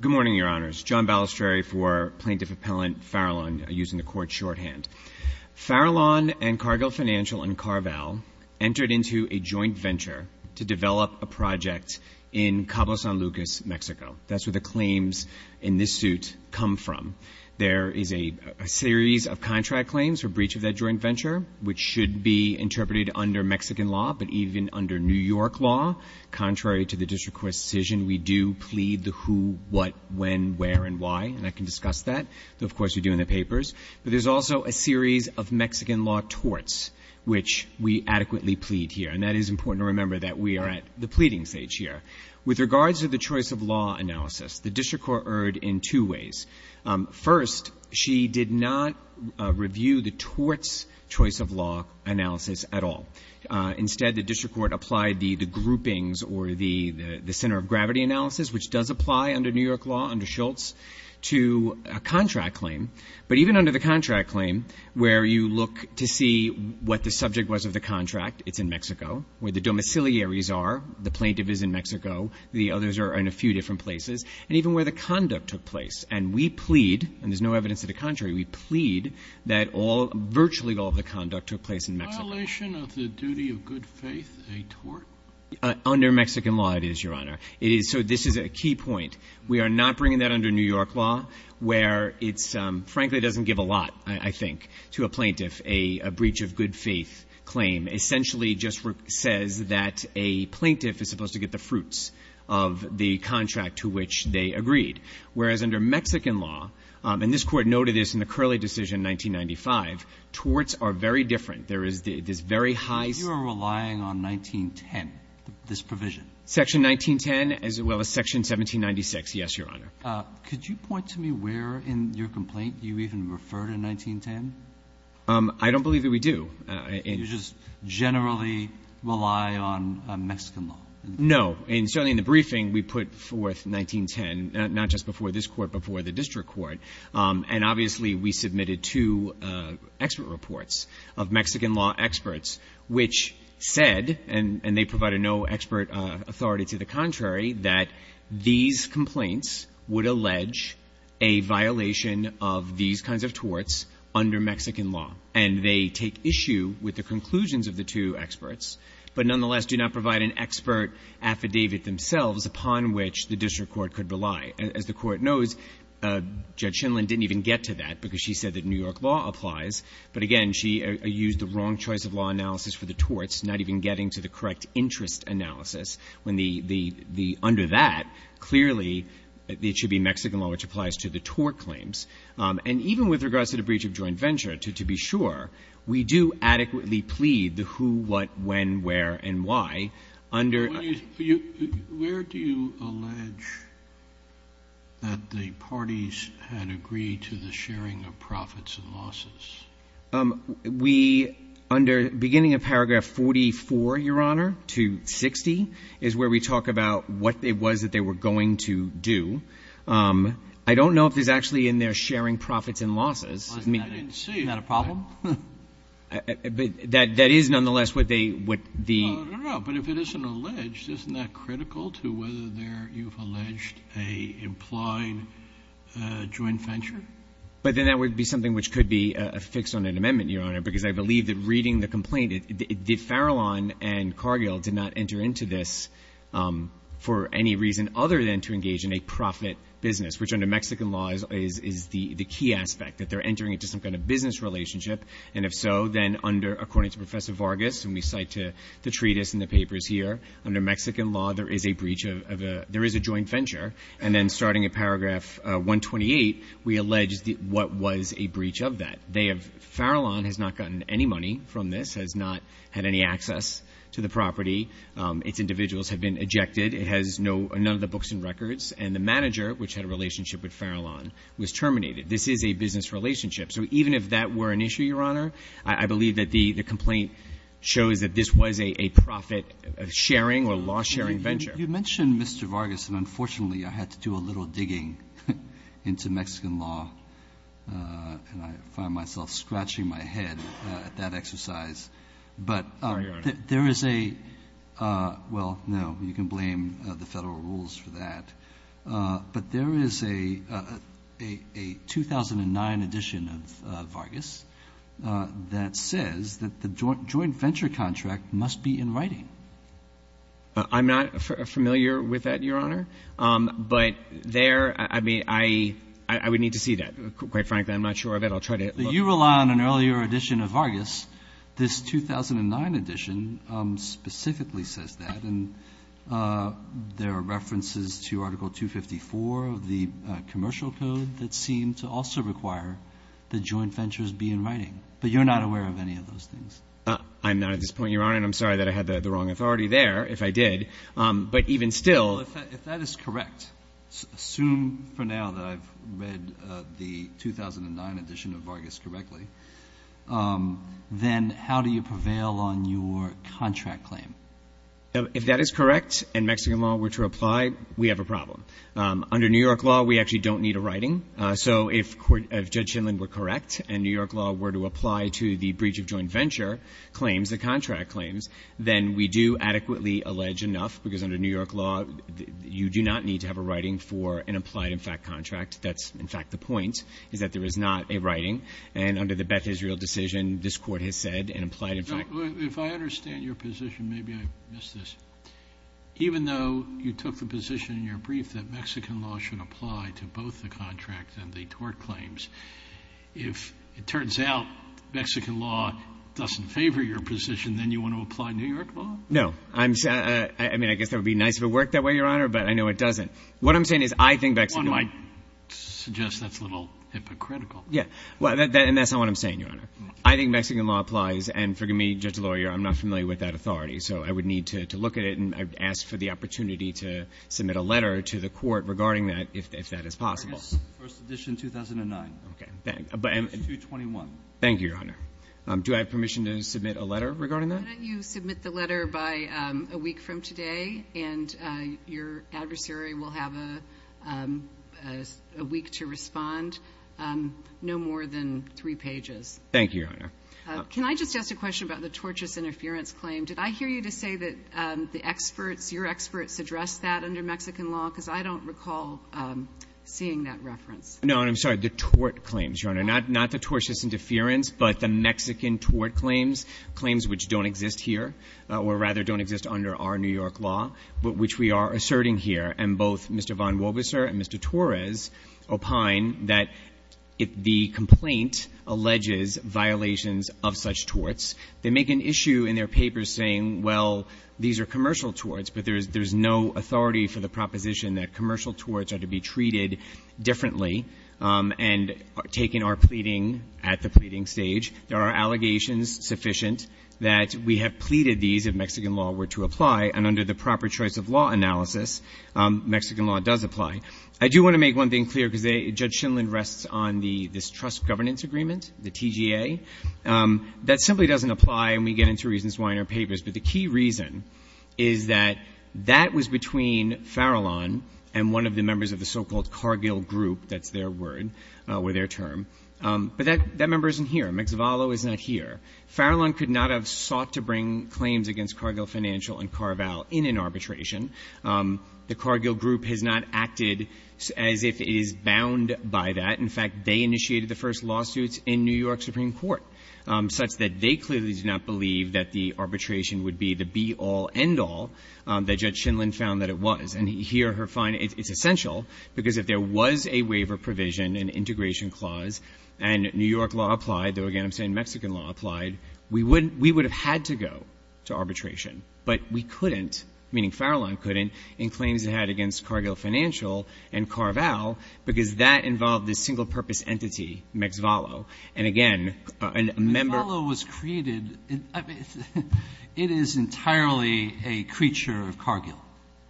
Good morning, Your Honors. John Balistrieri for Plaintiff Appellant Farallon using the court shorthand. Farallon and Cargill Financial and Carvel entered into a joint venture to develop a project in Cabo San Lucas, Mexico. That's where the claims in this suit come from. There is a series of contract claims for breach of that joint venture, which should be interpreted under Mexican law, but even under New York law, contrary to the district court's decision, we do plead the who, what, when, where, and why. And I can discuss that, though, of course, we do in the papers. But there's also a series of Mexican law torts, which we adequately plead here. And that is important to remember, that we are at the pleading stage here. With regards to the choice of law analysis, the district court erred in two ways. First, she did not review the torts choice of law analysis at all. Instead, the district court applied the groupings or the center of gravity analysis, which does apply under New York law under Schultz, to a contract claim. But even under the contract claim, where you look to see what the subject was of the contract, it's in Mexico, where the domiciliaries are, the plaintiff is in Mexico, the others are in a few different places, and even where the conduct took place. And we plead, and there's no evidence to the contrary, we plead that virtually all of the conduct took place in Mexico. Is the violation of the duty of good faith a tort? Under Mexican law, it is, Your Honor. It is. So this is a key point. We are not bringing that under New York law, where it's frankly doesn't give a lot, I think, to a plaintiff. A breach of good faith claim essentially just says that a plaintiff is supposed to get the fruits of the contract to which they agreed. Whereas under Mexican law, and this court noted this in the Curley decision in 1995, torts are very different. There is this very high ---- But you are relying on 1910, this provision? Section 1910, as well as Section 1796, yes, Your Honor. Could you point to me where in your complaint you even refer to 1910? I don't believe that we do. You just generally rely on Mexican law? No. And certainly in the briefing, we put forth 1910, not just before this court, but before the district court. And obviously, we submitted two expert reports of Mexican law experts, which said, and they provided no expert authority to the contrary, that these complaints would allege a violation of these kinds of torts under Mexican law. And they take issue with the conclusions of the two experts, but nonetheless do not provide an expert affidavit themselves upon which the district court could rely. As the Court knows, Judge Schindler didn't even get to that because she said that New York law applies. But again, she used the wrong choice of law analysis for the torts, not even getting to the correct interest analysis, when the under that, clearly, it should be Mexican law, which applies to the tort claims. And even with regards to the breach of joint venture, to be sure, we do adequately plead the who, what, when, where, and why under ---- that the parties had agreed to the sharing of profits and losses. We, under beginning of paragraph 44, Your Honor, to 60, is where we talk about what it was that they were going to do. I don't know if there's actually in there sharing profits and losses. I didn't see it. Isn't that a problem? But that is nonetheless what they, what the ---- I don't know. But if it isn't alleged, isn't that critical to whether there you've alleged a implied joint venture? But then that would be something which could be affixed on an amendment, Your Honor, because I believe that reading the complaint, the Farallon and Cargill did not enter into this for any reason other than to engage in a profit business, which under Mexican law is the key aspect, that they're entering into some kind of business relationship. And if so, then under, according to Professor Vargas, and we cite to the treatise and the papers here, under Mexican law there is a breach of a, there is a joint venture. And then starting at paragraph 128, we allege what was a breach of that. They have, Farallon has not gotten any money from this, has not had any access to the property. Its individuals have been ejected. It has no, none of the books and records. And the manager, which had a relationship with Farallon, was terminated. This is a business relationship. So even if that were an issue, Your Honor, I believe that the complaint shows that this was a profit-sharing or law-sharing venture. Breyer. You mentioned Mr. Vargas, and unfortunately I had to do a little digging into Mexican law, and I find myself scratching my head at that exercise. But there is a, well, no, you can blame the Federal rules for that. But there is a 2009 edition of Vargas that says that the joint venture contract must be in writing. I'm not familiar with that, Your Honor. But there, I mean, I would need to see that. Quite frankly, I'm not sure of it. I'll try to look. You rely on an earlier edition of Vargas. This 2009 edition specifically says that. And there are references to Article 254 of the commercial code that seem to also require the joint ventures be in writing. But you're not aware of any of those things. I'm not at this point, Your Honor, and I'm sorry that I had the wrong authority there, if I did. But even still. Well, if that is correct, assume for now that I've read the 2009 edition of Vargas correctly, then how do you prevail on your contract claim? If that is correct and Mexican law were to apply, we have a problem. Under New York law, we actually don't need a writing. So if Judge Schindler were correct and New York law were to apply to the breach of joint venture claims, the contract claims, then we do adequately allege enough, because under New York law, you do not need to have a writing for an implied-in-fact contract. That's, in fact, the point, is that there is not a writing. And under the Beth Israel decision, this Court has said an implied-in-fact. If I understand your position, maybe I missed this. Even though you took the position in your brief that Mexican law should apply to both the contract and the tort claims, if it turns out Mexican law doesn't favor your position, then you want to apply New York law? No. I mean, I guess that would be nice if it worked that way, Your Honor, but I know it doesn't. What I'm saying is I think Mexican law. One might suggest that's a little hypocritical. Yeah. And that's not what I'm saying, Your Honor. I think Mexican law applies, and forgive me, Judge Lawyer, I'm not familiar with that authority, so I would need to look at it and ask for the opportunity to submit a letter to the Court regarding that, if that is possible. First edition, 2009. Okay. 221. Thank you, Your Honor. Do I have permission to submit a letter regarding that? Why don't you submit the letter by a week from today, and your adversary will have a week to respond, no more than three pages. Thank you, Your Honor. Can I just ask a question about the tortious interference claim? Did I hear you to say that the experts, your experts, addressed that under Mexican law? Because I don't recall seeing that reference. No, and I'm sorry, the tort claims, Your Honor, not the tortious interference, but the Mexican tort claims, claims which don't exist here, or rather don't exist under our New York law, but which we are asserting here. And both Mr. Von Wobiser and Mr. Torres opine that the complaint alleges violations of such torts. They make an issue in their papers saying, well, these are commercial torts, but there's no authority for the proposition that commercial torts are to be treated differently and taken our pleading at the pleading stage. There are allegations sufficient that we have pleaded these if Mexican law were to apply, and under the proper choice of law analysis, Mexican law does apply. I do want to make one thing clear because Judge Shindlin rests on this trust governance agreement, the TGA. That simply doesn't apply, and we get into reasons why in our papers. But the key reason is that that was between Farallon and one of the members of the so-called Cargill Group that's their word or their term. But that member isn't here. McZavallo is not here. Farallon could not have sought to bring claims against Cargill Financial and Carval in an arbitration. The Cargill Group has not acted as if it is bound by that. In fact, they initiated the first lawsuits in New York Supreme Court such that they clearly did not believe that the arbitration would be the be-all, end-all that Judge Shindlin found that it was. And here, it's essential because if there was a waiver provision, an integration clause, and New York law applied, though again I'm saying Mexican law applied, we would have had to go to arbitration. But we couldn't, meaning Farallon couldn't, in claims it had against Cargill Financial and Carval because that involved this single-purpose entity, McZavallo. And again, a member of the group. McZavallo was created, I mean, it is entirely a creature of Cargill.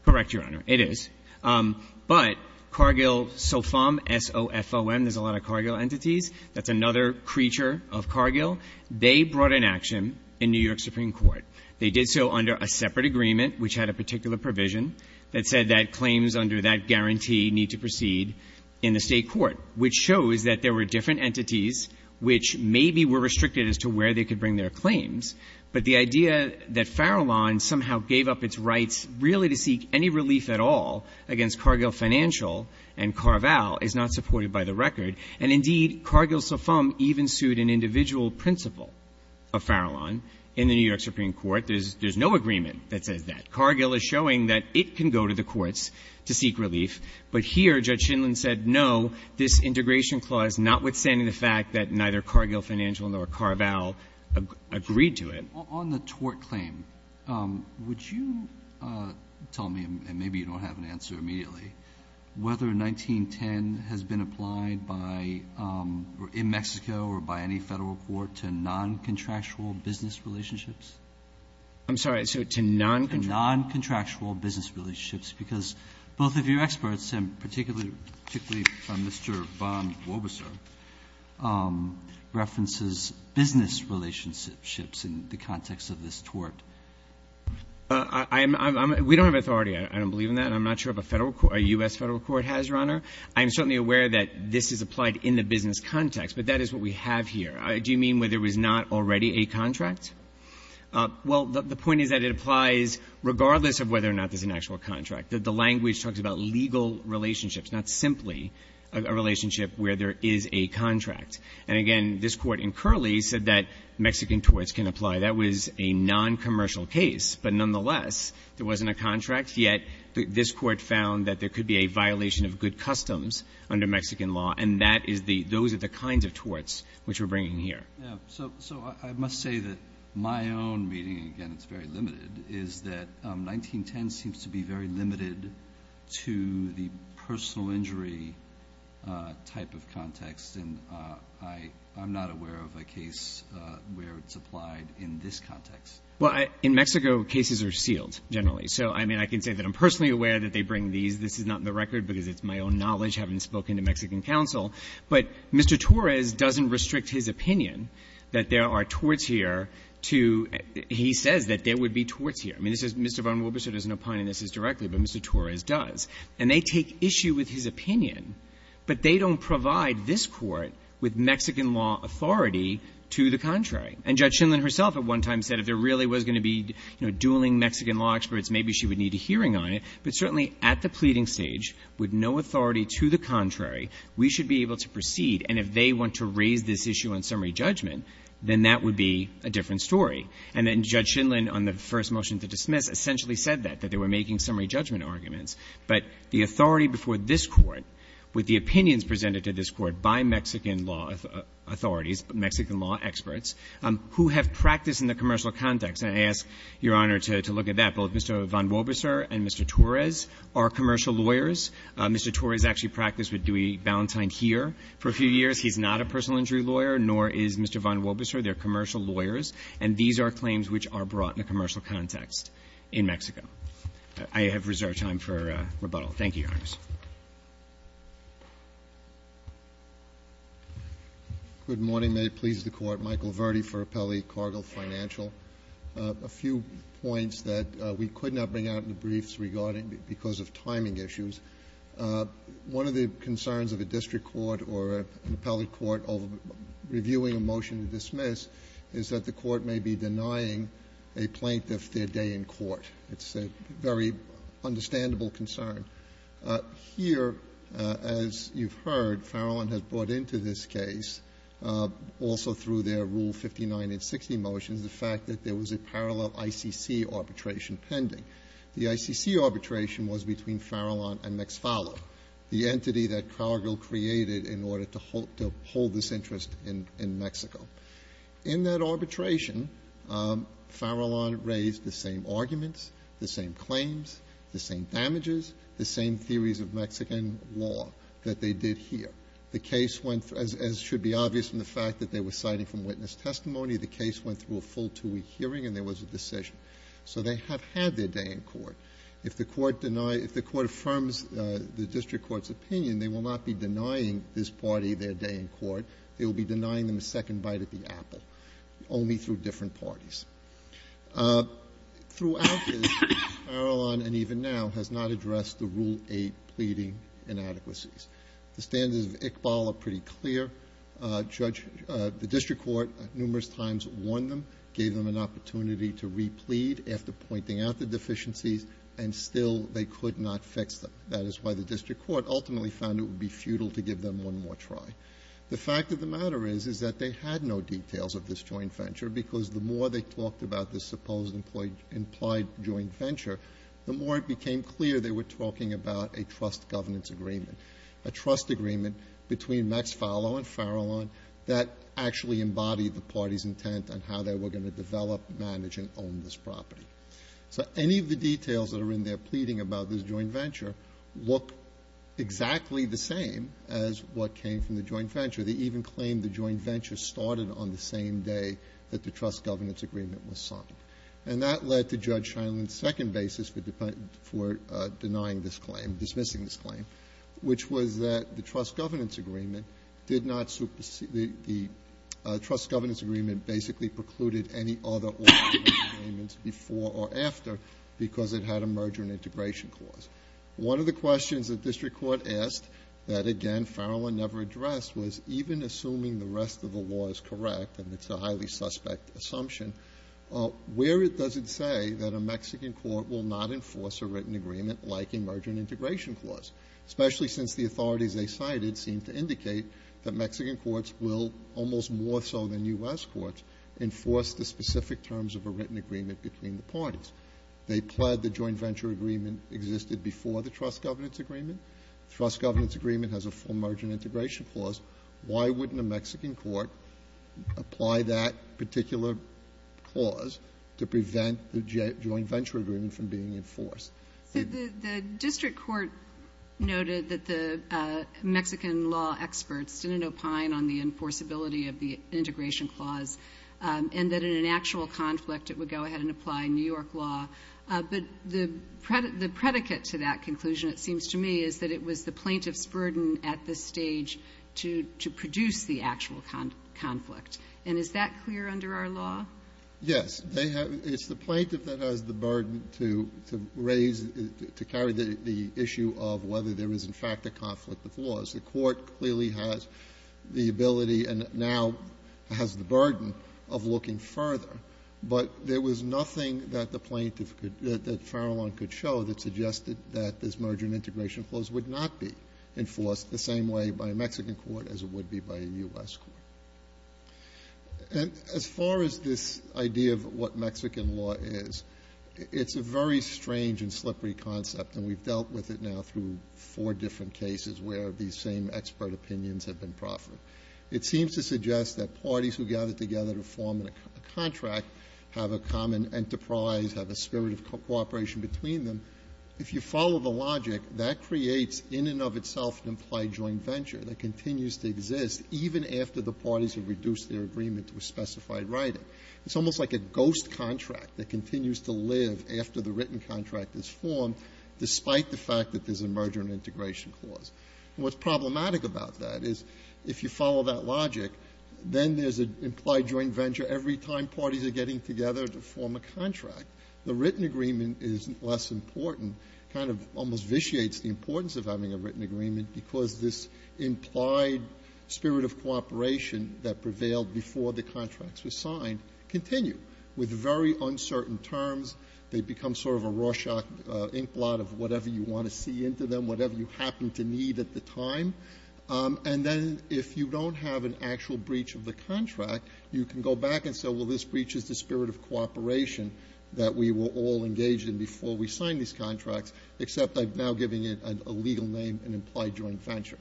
Correct, Your Honor. It is. But Cargill SOFOM, S-O-F-O-M, there's a lot of Cargill entities. That's another creature of Cargill. They brought an action in New York Supreme Court. They did so under a separate agreement which had a particular provision that said that claims under that guarantee need to proceed in the State court, which shows that there were different entities which maybe were restricted as to where they could bring their claims. But the idea that Farallon somehow gave up its rights really to seek any relief at all against Cargill Financial and Carval is not supported by the record. And indeed, Cargill SOFOM even sued an individual principal of Farallon in the New York Supreme Court. There's no agreement that says that. Cargill is showing that it can go to the courts to seek relief. But here, Judge Shindlin said, no, this integration clause, notwithstanding the fact that neither Cargill Financial nor Carval agreed to it. Robertson, on the tort claim, would you tell me, and maybe you don't have an answer immediately, whether 1910 has been applied by or in Mexico or by any Federal court to noncontractual business relationships? I'm sorry. So to noncontractual business relationships, because both of your experts, and particularly Mr. Von Wobeser, references business relationships in the context of this tort. We don't have authority. I don't believe in that. And I'm not sure if a Federal court, a U.S. Federal court has, Your Honor. I am certainly aware that this is applied in the business context. But that is what we have here. Do you mean whether there was not already a contract? Well, the point is that it applies regardless of whether or not there's an actual contract. The language talks about legal relationships, not simply a relationship where there is a contract. And again, this Court in Curley said that Mexican torts can apply. That was a noncommercial case. But nonetheless, there wasn't a contract. Yet this Court found that there could be a violation of good customs under Mexican law, and that is the — those are the kinds of torts which we're bringing here. So I must say that my own reading, again, it's very limited, is that 1910 seems to be very limited to the personal injury type of context. And I'm not aware of a case where it's applied in this context. Well, in Mexico, cases are sealed, generally. So, I mean, I can say that I'm personally aware that they bring these. This is not in the record because it's my own knowledge, having spoken to Mexican counsel. But Mr. Torres doesn't restrict his opinion that there are torts here to — he says that there would be torts here. I mean, this is — Mr. Von Wolberstow doesn't opine on this as directly, but Mr. Torres does. And they take issue with his opinion, but they don't provide this Court with Mexican law authority to the contrary. And Judge Schindlin herself at one time said if there really was going to be, you know, dueling Mexican law experts, maybe she would need a hearing on it. But certainly at the pleading stage, with no authority to the contrary, we should be able to proceed. And if they want to raise this issue on summary judgment, then that would be a different And then Judge Schindlin, on the first motion to dismiss, essentially said that, that they were making summary judgment arguments. But the authority before this Court, with the opinions presented to this Court by Mexican law authorities, Mexican law experts, who have practiced in the commercial context — and I ask Your Honor to look at that — both Mr. Von Wolberstow and Mr. Torres are commercial lawyers. Mr. Torres actually practiced with Dewey Ballantyne here for a few years. He's not a personal injury lawyer, nor is Mr. Von Wolberstow. They're commercial lawyers. And these are claims which are brought in a commercial context in Mexico. I have reserved time for rebuttal. Thank you, Your Honor. MR. VERRILLI, JR.: Good morning. May it please the Court. Michael Verdi for Appellee Cargill Financial. A few points that we could not bring out in the briefs regarding — because of timing issues. One of the concerns of a district court or an appellate court reviewing a motion to dismiss is that the court may be denying a plaintiff their day in court. It's a very understandable concern. Here, as you've heard, Farallon has brought into this case, also through their Rule 59 and 60 motions, the fact that there was a parallel ICC arbitration pending. The ICC arbitration was between Farallon and Mexfalo, the entity that Cargill created in order to hold this interest in Mexico. In that arbitration, Farallon raised the same arguments, the same claims, the same damages, the same theories of Mexican law that they did here. The case went, as should be obvious from the fact that they were citing from witness testimony, the case went through a full two-week hearing and there was a decision. So they have had their day in court. If the court denies — if the court affirms the district court's opinion, they will not be denying this party their day in court. They will be denying them a second bite at the apple, only through different parties. Throughout this, Farallon, and even now, has not addressed the Rule 8 pleading inadequacies. The standards of ICBAL are pretty clear. Judge — the district court numerous times warned them, gave them an opportunity to replead after pointing out the deficiencies, and still they could not fix them. That is why the district court ultimately found it would be futile to give them one more try. The fact of the matter is, is that they had no details of this joint venture, because the more they talked about this supposed implied joint venture, the more it became clear they were talking about a trust governance agreement, a trust agreement between Mexfalo and Farallon that actually embodied the party's intent on how they were going to develop, manage, and own this property. So any of the details that are in their pleading about this joint venture look exactly the same as what came from the joint venture. They even claimed the joint venture started on the same day that the trust governance agreement was signed. And that led to Judge Scheinlein's second basis for denying this claim, dismissing this claim, which was that the trust governance agreement did not supersede the trust governance agreement, basically precluded any other orderly agreements before or after, because it had a merger and integration clause. One of the questions the district court asked that, again, Farallon never addressed was, even assuming the rest of the law is correct, and it's a highly suspect assumption, where does it say that a Mexican court will not enforce a written agreement like a merger and integration clause, especially since the authorities they cited seem to indicate that Mexican courts will, almost more so than U.S. courts, enforce the specific terms of a written agreement between the parties? They pled the joint venture agreement existed before the trust governance agreement. The trust governance agreement has a full merger and integration clause. Why wouldn't a Mexican court apply that particular clause to prevent the joint venture agreement from being enforced? The district court noted that the Mexican law experts didn't opine on the enforceability of the integration clause, and that in an actual conflict it would go ahead and apply New York law. But the predicate to that conclusion, it seems to me, is that it was the plaintiff's burden at this stage to produce the actual conflict. And is that clear under our law? Yes. It's the plaintiff that has the burden to raise, to carry the issue of whether there is, in fact, a conflict of laws. The Court clearly has the ability and now has the burden of looking further. But there was nothing that the plaintiff could, that Farrellon could show that suggested that this merger and integration clause would not be enforced the same way by a Mexican court as it would be by a U.S. court. And as far as this idea of what Mexican law is, it's a very strange and slippery concept, and we've dealt with it now through four different cases where these same expert opinions have been proffered. It seems to suggest that parties who gather together to form a contract have a common enterprise, have a spirit of cooperation between them. If you follow the logic, that creates in and of itself an implied joint venture that continues to exist even after the parties have reduced their agreement to a specified writing. It's almost like a ghost contract that continues to live after the written contract is formed, despite the fact that there's a merger and integration clause. And what's problematic about that is if you follow that logic, then there's an implied joint venture every time parties are getting together to form a contract. The written agreement is less important, kind of almost vitiates the importance of having a written agreement, because this implied spirit of cooperation that prevailed before the contracts were signed continue with very uncertain terms. They become sort of a Rorschach inkblot of whatever you want to see into them, whatever you happen to need at the time. And then if you don't have an actual breach of the contract, you can go back and say, well, this breaches the spirit of cooperation that we were all engaged in before we signed these contracts, except I'm now giving it a legal name, an implied joint venture.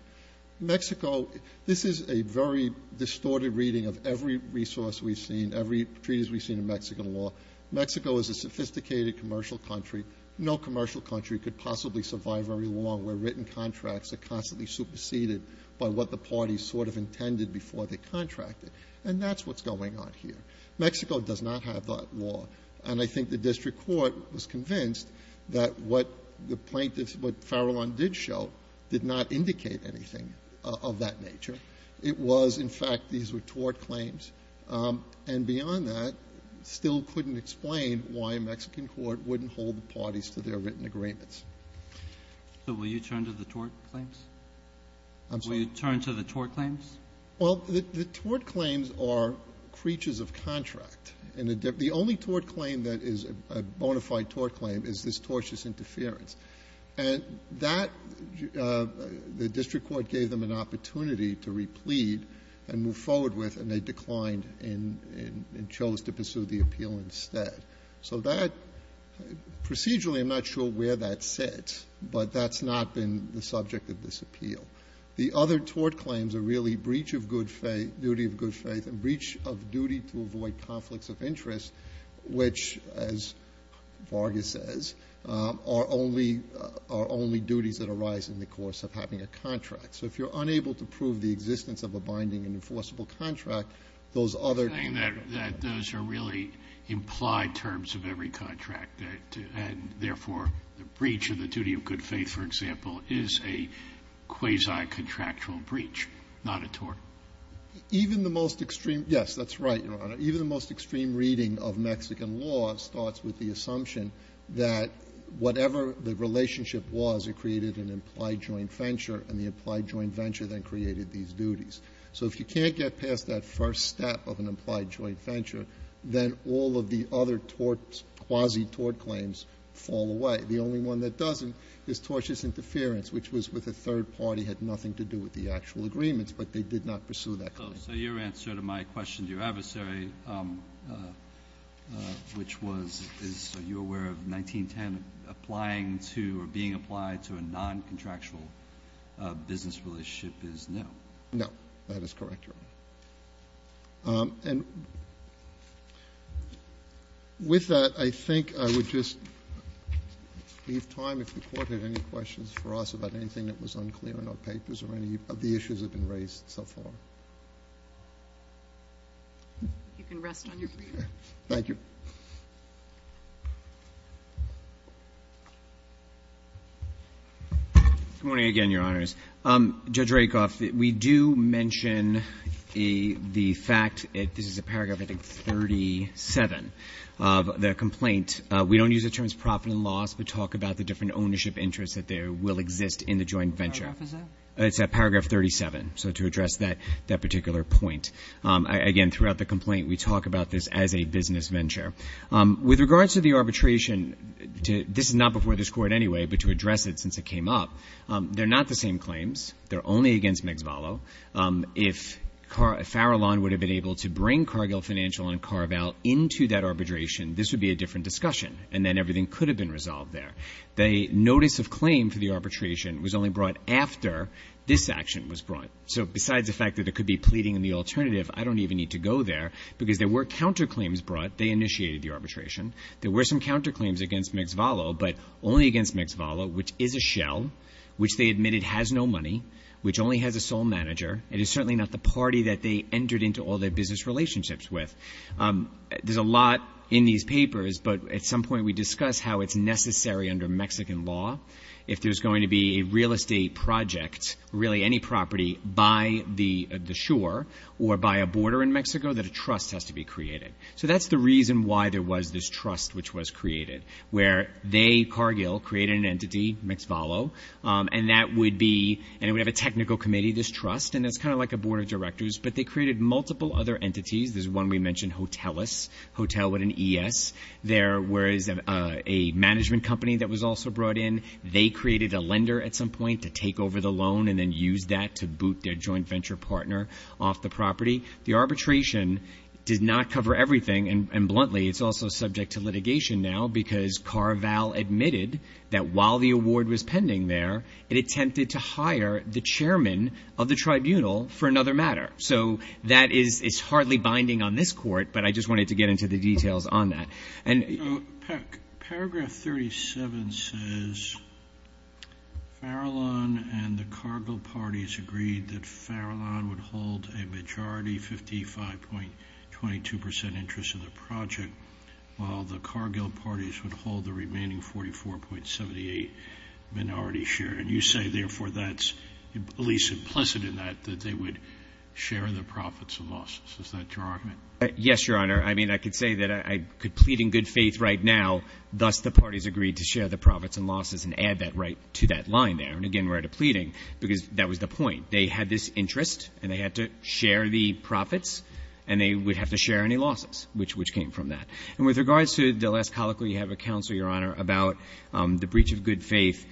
Mexico, this is a very distorted reading of every resource we've seen, every treatise we've seen in Mexican law. Mexico is a sophisticated commercial country. No commercial country could possibly survive very long where written contracts are constantly superseded by what the parties sort of intended before they contracted. And that's what's going on here. Mexico does not have that law. And I think the district court was convinced that what the plaintiffs, what Farrellon did show, did not indicate anything of that nature. It was, in fact, these were tort claims. And beyond that, still couldn't explain why a Mexican court wouldn't hold the parties to their written agreements. So will you turn to the tort claims? I'm sorry? Will you turn to the tort claims? Well, the tort claims are creatures of contract. And the only tort claim that is a bona fide tort claim is this tortious interference. And that, the district court gave them an opportunity to replete and move forward with, and they declined and chose to pursue the appeal instead. So that, procedurally, I'm not sure where that sits, but that's not been the subject of this appeal. The other tort claims are really breach of good faith, duty of good faith, and breach of duty to avoid conflicts of interest, which, as Vargas says, are only duties that arise in the course of having a contract. So if you're unable to prove the existence of a binding and enforceable contract, those other. You're saying that those are really implied terms of every contract, and therefore the breach of the duty of good faith, for example, is a quasi-contractual breach, not a tort. Even the most extreme. Yes, that's right, Your Honor. Even the most extreme reading of Mexican law starts with the assumption that whatever the relationship was, it created an implied joint venture, and the implied joint venture then created these duties. So if you can't get past that first step of an implied joint venture, then all of the other quasi-tort claims fall away. The only one that doesn't is tortious interference, which was with a third party, had nothing to do with the actual agreements, but they did not pursue that claim. So your answer to my question to your adversary, which was, is you aware of 1910 applying to or being applied to a noncontractual business relationship is no? No. That is correct, Your Honor. And with that, I think I would just leave time if the Court had any questions for us about anything that was unclear in our papers or any of the issues that have been raised so far. You can rest on your feet. Thank you. Good morning again, Your Honors. Judge Rakoff, we do mention the fact that this is a paragraph, I think, 37 of the complaint. We don't use the terms profit and loss, but talk about the different ownership interests that there will exist in the joint venture. What paragraph is that? It's at paragraph 37, so to address that particular point. Again, throughout the complaint, we talk about this as a business venture. With regards to the arbitration, this is not before this Court anyway, but to address it since it came up, they're not the same claims. They're only against McFarland. If Farrellon would have been able to bring Cargill Financial and Carval into that arbitration, this would be a different discussion, and then everything could have been resolved there. The notice of claim for the arbitration was only brought after this action was brought. So besides the fact that it could be pleading in the alternative, I don't even need to go there, because there were counterclaims brought. They initiated the arbitration. There were some counterclaims against McFarland, but only against McFarland, which is a shell, which they admitted has no money, which only has a sole manager, and is certainly not the party that they entered into all their business relationships with. There's a lot in these papers, but at some point we discuss how it's necessary under Mexican law if there's going to be a real estate project, really any property by the shore or by a border in Mexico, that a trust has to be created. So that's the reason why there was this trust which was created, where they, Cargill, created an entity, McFarland, and that would be, and it would have a technical committee, this trust, and it's kind of like a board of directors, but they created multiple other entities. There's one we mentioned, Hotelus, Hotel with an E-S. There was a management company that was also brought in. They created a lender at some point to take over the loan and then use that to boot their joint venture partner off the property. The arbitration did not cover everything, and bluntly, it's also subject to litigation now because Carval admitted that while the award was pending there, it attempted to hire the chairman of the tribunal for another matter. So that is hardly binding on this court, but I just wanted to get into the Paragraph 37 says Farallon and the Cargill parties agreed that Farallon would hold a majority 55.22% interest in the project, while the Cargill parties would hold the remaining 44.78 minority share. And you say, therefore, that's at least implicit in that, that they would share the profits and losses. Is that your argument? Yes, Your Honor. I mean, I could say that I could plead in good faith right now, thus the parties agreed to share the profits and losses and add that right to that line there. And, again, we're at a pleading because that was the point. They had this interest, and they had to share the profits, and they would have to share any losses, which came from that. And with regards to the last colloquy you have, Counsel, Your Honor, about the breach of good faith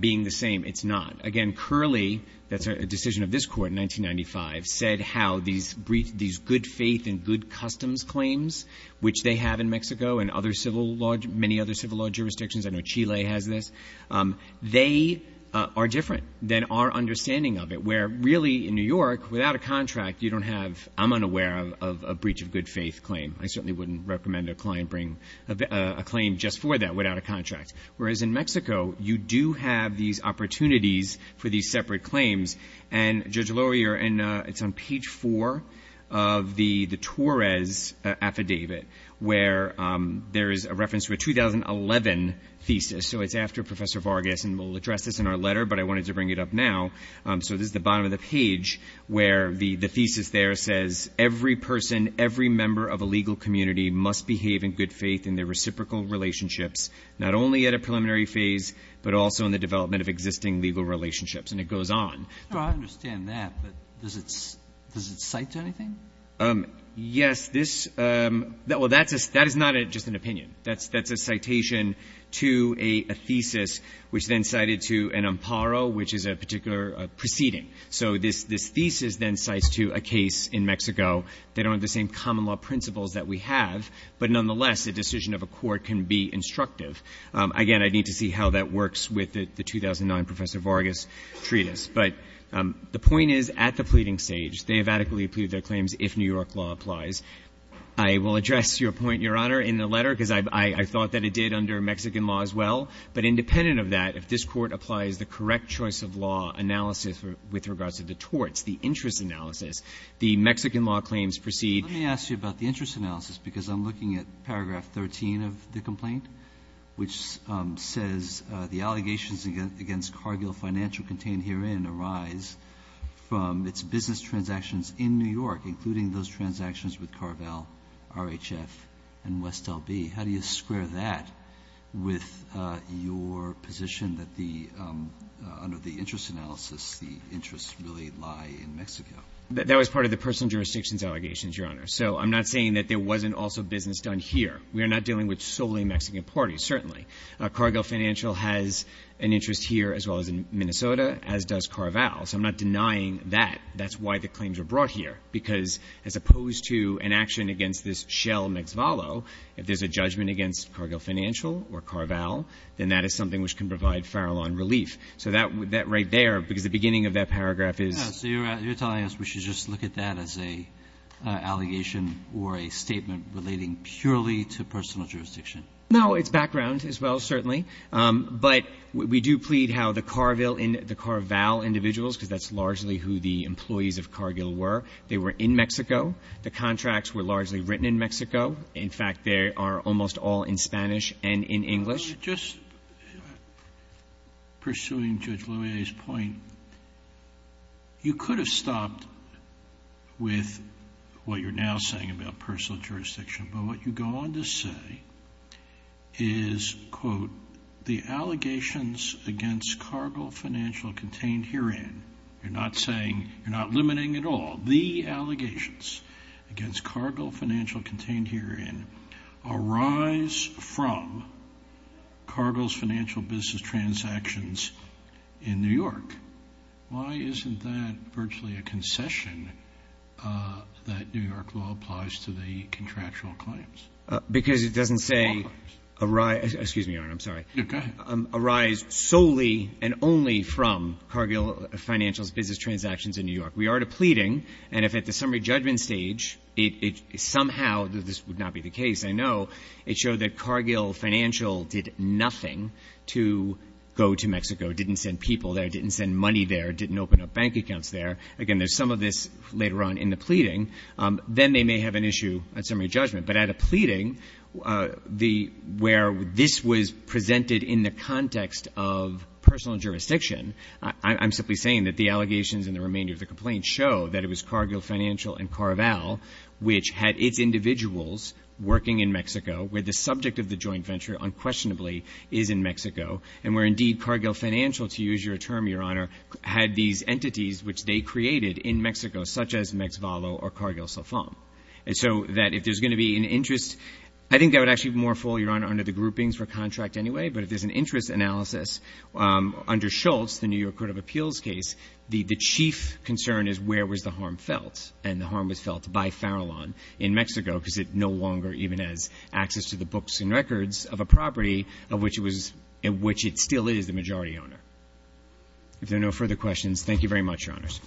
being the same, it's not. Again, Curley, that's a decision of this court in 1995, said how these good faith and good customs claims, which they have in Mexico and many other civil law jurisdictions, I know Chile has this, they are different than our understanding of it, where really in New York, without a contract, you don't have, I'm unaware of a breach of good faith claim. I certainly wouldn't recommend a client bring a claim just for that without a contract. Whereas in Mexico, you do have these opportunities for these separate claims. And, Judge Loyer, it's on page four of the Torres affidavit, where there is a reference to a 2011 thesis. So it's after Professor Vargas, and we'll address this in our letter, but I wanted to bring it up now. So this is the bottom of the page where the thesis there says, every person, every member of a legal community must behave in good faith in their reciprocal relationships, not only at a preliminary phase, but also in the development of existing legal relationships. And it goes on. I understand that, but does it cite to anything? Yes. Well, that is not just an opinion. That's a citation to a thesis, which then cited to an amparo, which is a particular proceeding. So this thesis then cites to a case in Mexico that aren't the same common law principles that we have, but nonetheless, a decision of a court can be instructive. Again, I'd need to see how that works with the 2009 Professor Vargas treatise. But the point is, at the pleading stage, they have adequately pleaded their claims if New York law applies. I will address your point, Your Honor, in the letter, because I thought that it did under Mexican law as well. But independent of that, if this Court applies the correct choice of law analysis with regards to the torts, the interest analysis, the Mexican law claims proceed. Let me ask you about the interest analysis, because I'm looking at paragraph 13 of the complaint, which says the allegations against Cargill Financial contained herein arise from its business transactions in New York, including those transactions with Carvel, RHF, and West L.B. How do you square that with your position that under the interest analysis, the interests really lie in Mexico? That was part of the personal jurisdictions allegations, Your Honor. So I'm not saying that there wasn't also business done here. We are not dealing with solely Mexican parties, certainly. Cargill Financial has an interest here as well as in Minnesota, as does Carvel. So I'm not denying that. That's why the claims are brought here, because as opposed to an action against this Shell-Mexvalo, if there's a judgment against Cargill Financial or Carvel, then that is something which can provide Farallon relief. So that right there, because the beginning of that paragraph is— No, it's background as well, certainly. But we do plead how the Carville and the Carval individuals, because that's largely who the employees of Cargill were, they were in Mexico. The contracts were largely written in Mexico. In fact, they are almost all in Spanish and in English. Just pursuing Judge Loehr's point, you could have stopped with what you're now saying about personal jurisdiction. But what you go on to say is, quote, the allegations against Cargill Financial contained herein— you're not saying, you're not limiting at all— the allegations against Cargill Financial contained herein arise from Cargill's financial business transactions in New York. Why isn't that virtually a concession that New York law applies to the contractual claims? Because it doesn't say arise—excuse me, Your Honor, I'm sorry. No, go ahead. Arise solely and only from Cargill Financial's business transactions in New York. We are depleting, and if at the summary judgment stage, it somehow—this would not be the case, I know— it showed that Cargill Financial did nothing to go to Mexico. It didn't send people there. It didn't send money there. It didn't open up bank accounts there. Again, there's some of this later on in the pleading. Then they may have an issue at summary judgment. But at a pleading where this was presented in the context of personal jurisdiction, I'm simply saying that the allegations and the remainder of the complaint show that it was Cargill Financial and Carvel which had its individuals working in Mexico where the subject of the joint venture unquestionably is in Mexico, and where indeed Cargill Financial, to use your term, Your Honor, had these entities which they created in Mexico, such as Mexvalo or Cargill Sofom. And so that if there's going to be an interest— I think that would actually be more full, Your Honor, under the groupings for contract anyway. But if there's an interest analysis under Schultz, the New York Court of Appeals case, the chief concern is where was the harm felt, and the harm was felt by Farallon in Mexico because it no longer even has access to the books and records of a property of which it still is the majority owner. If there are no further questions, thank you very much, Your Honors.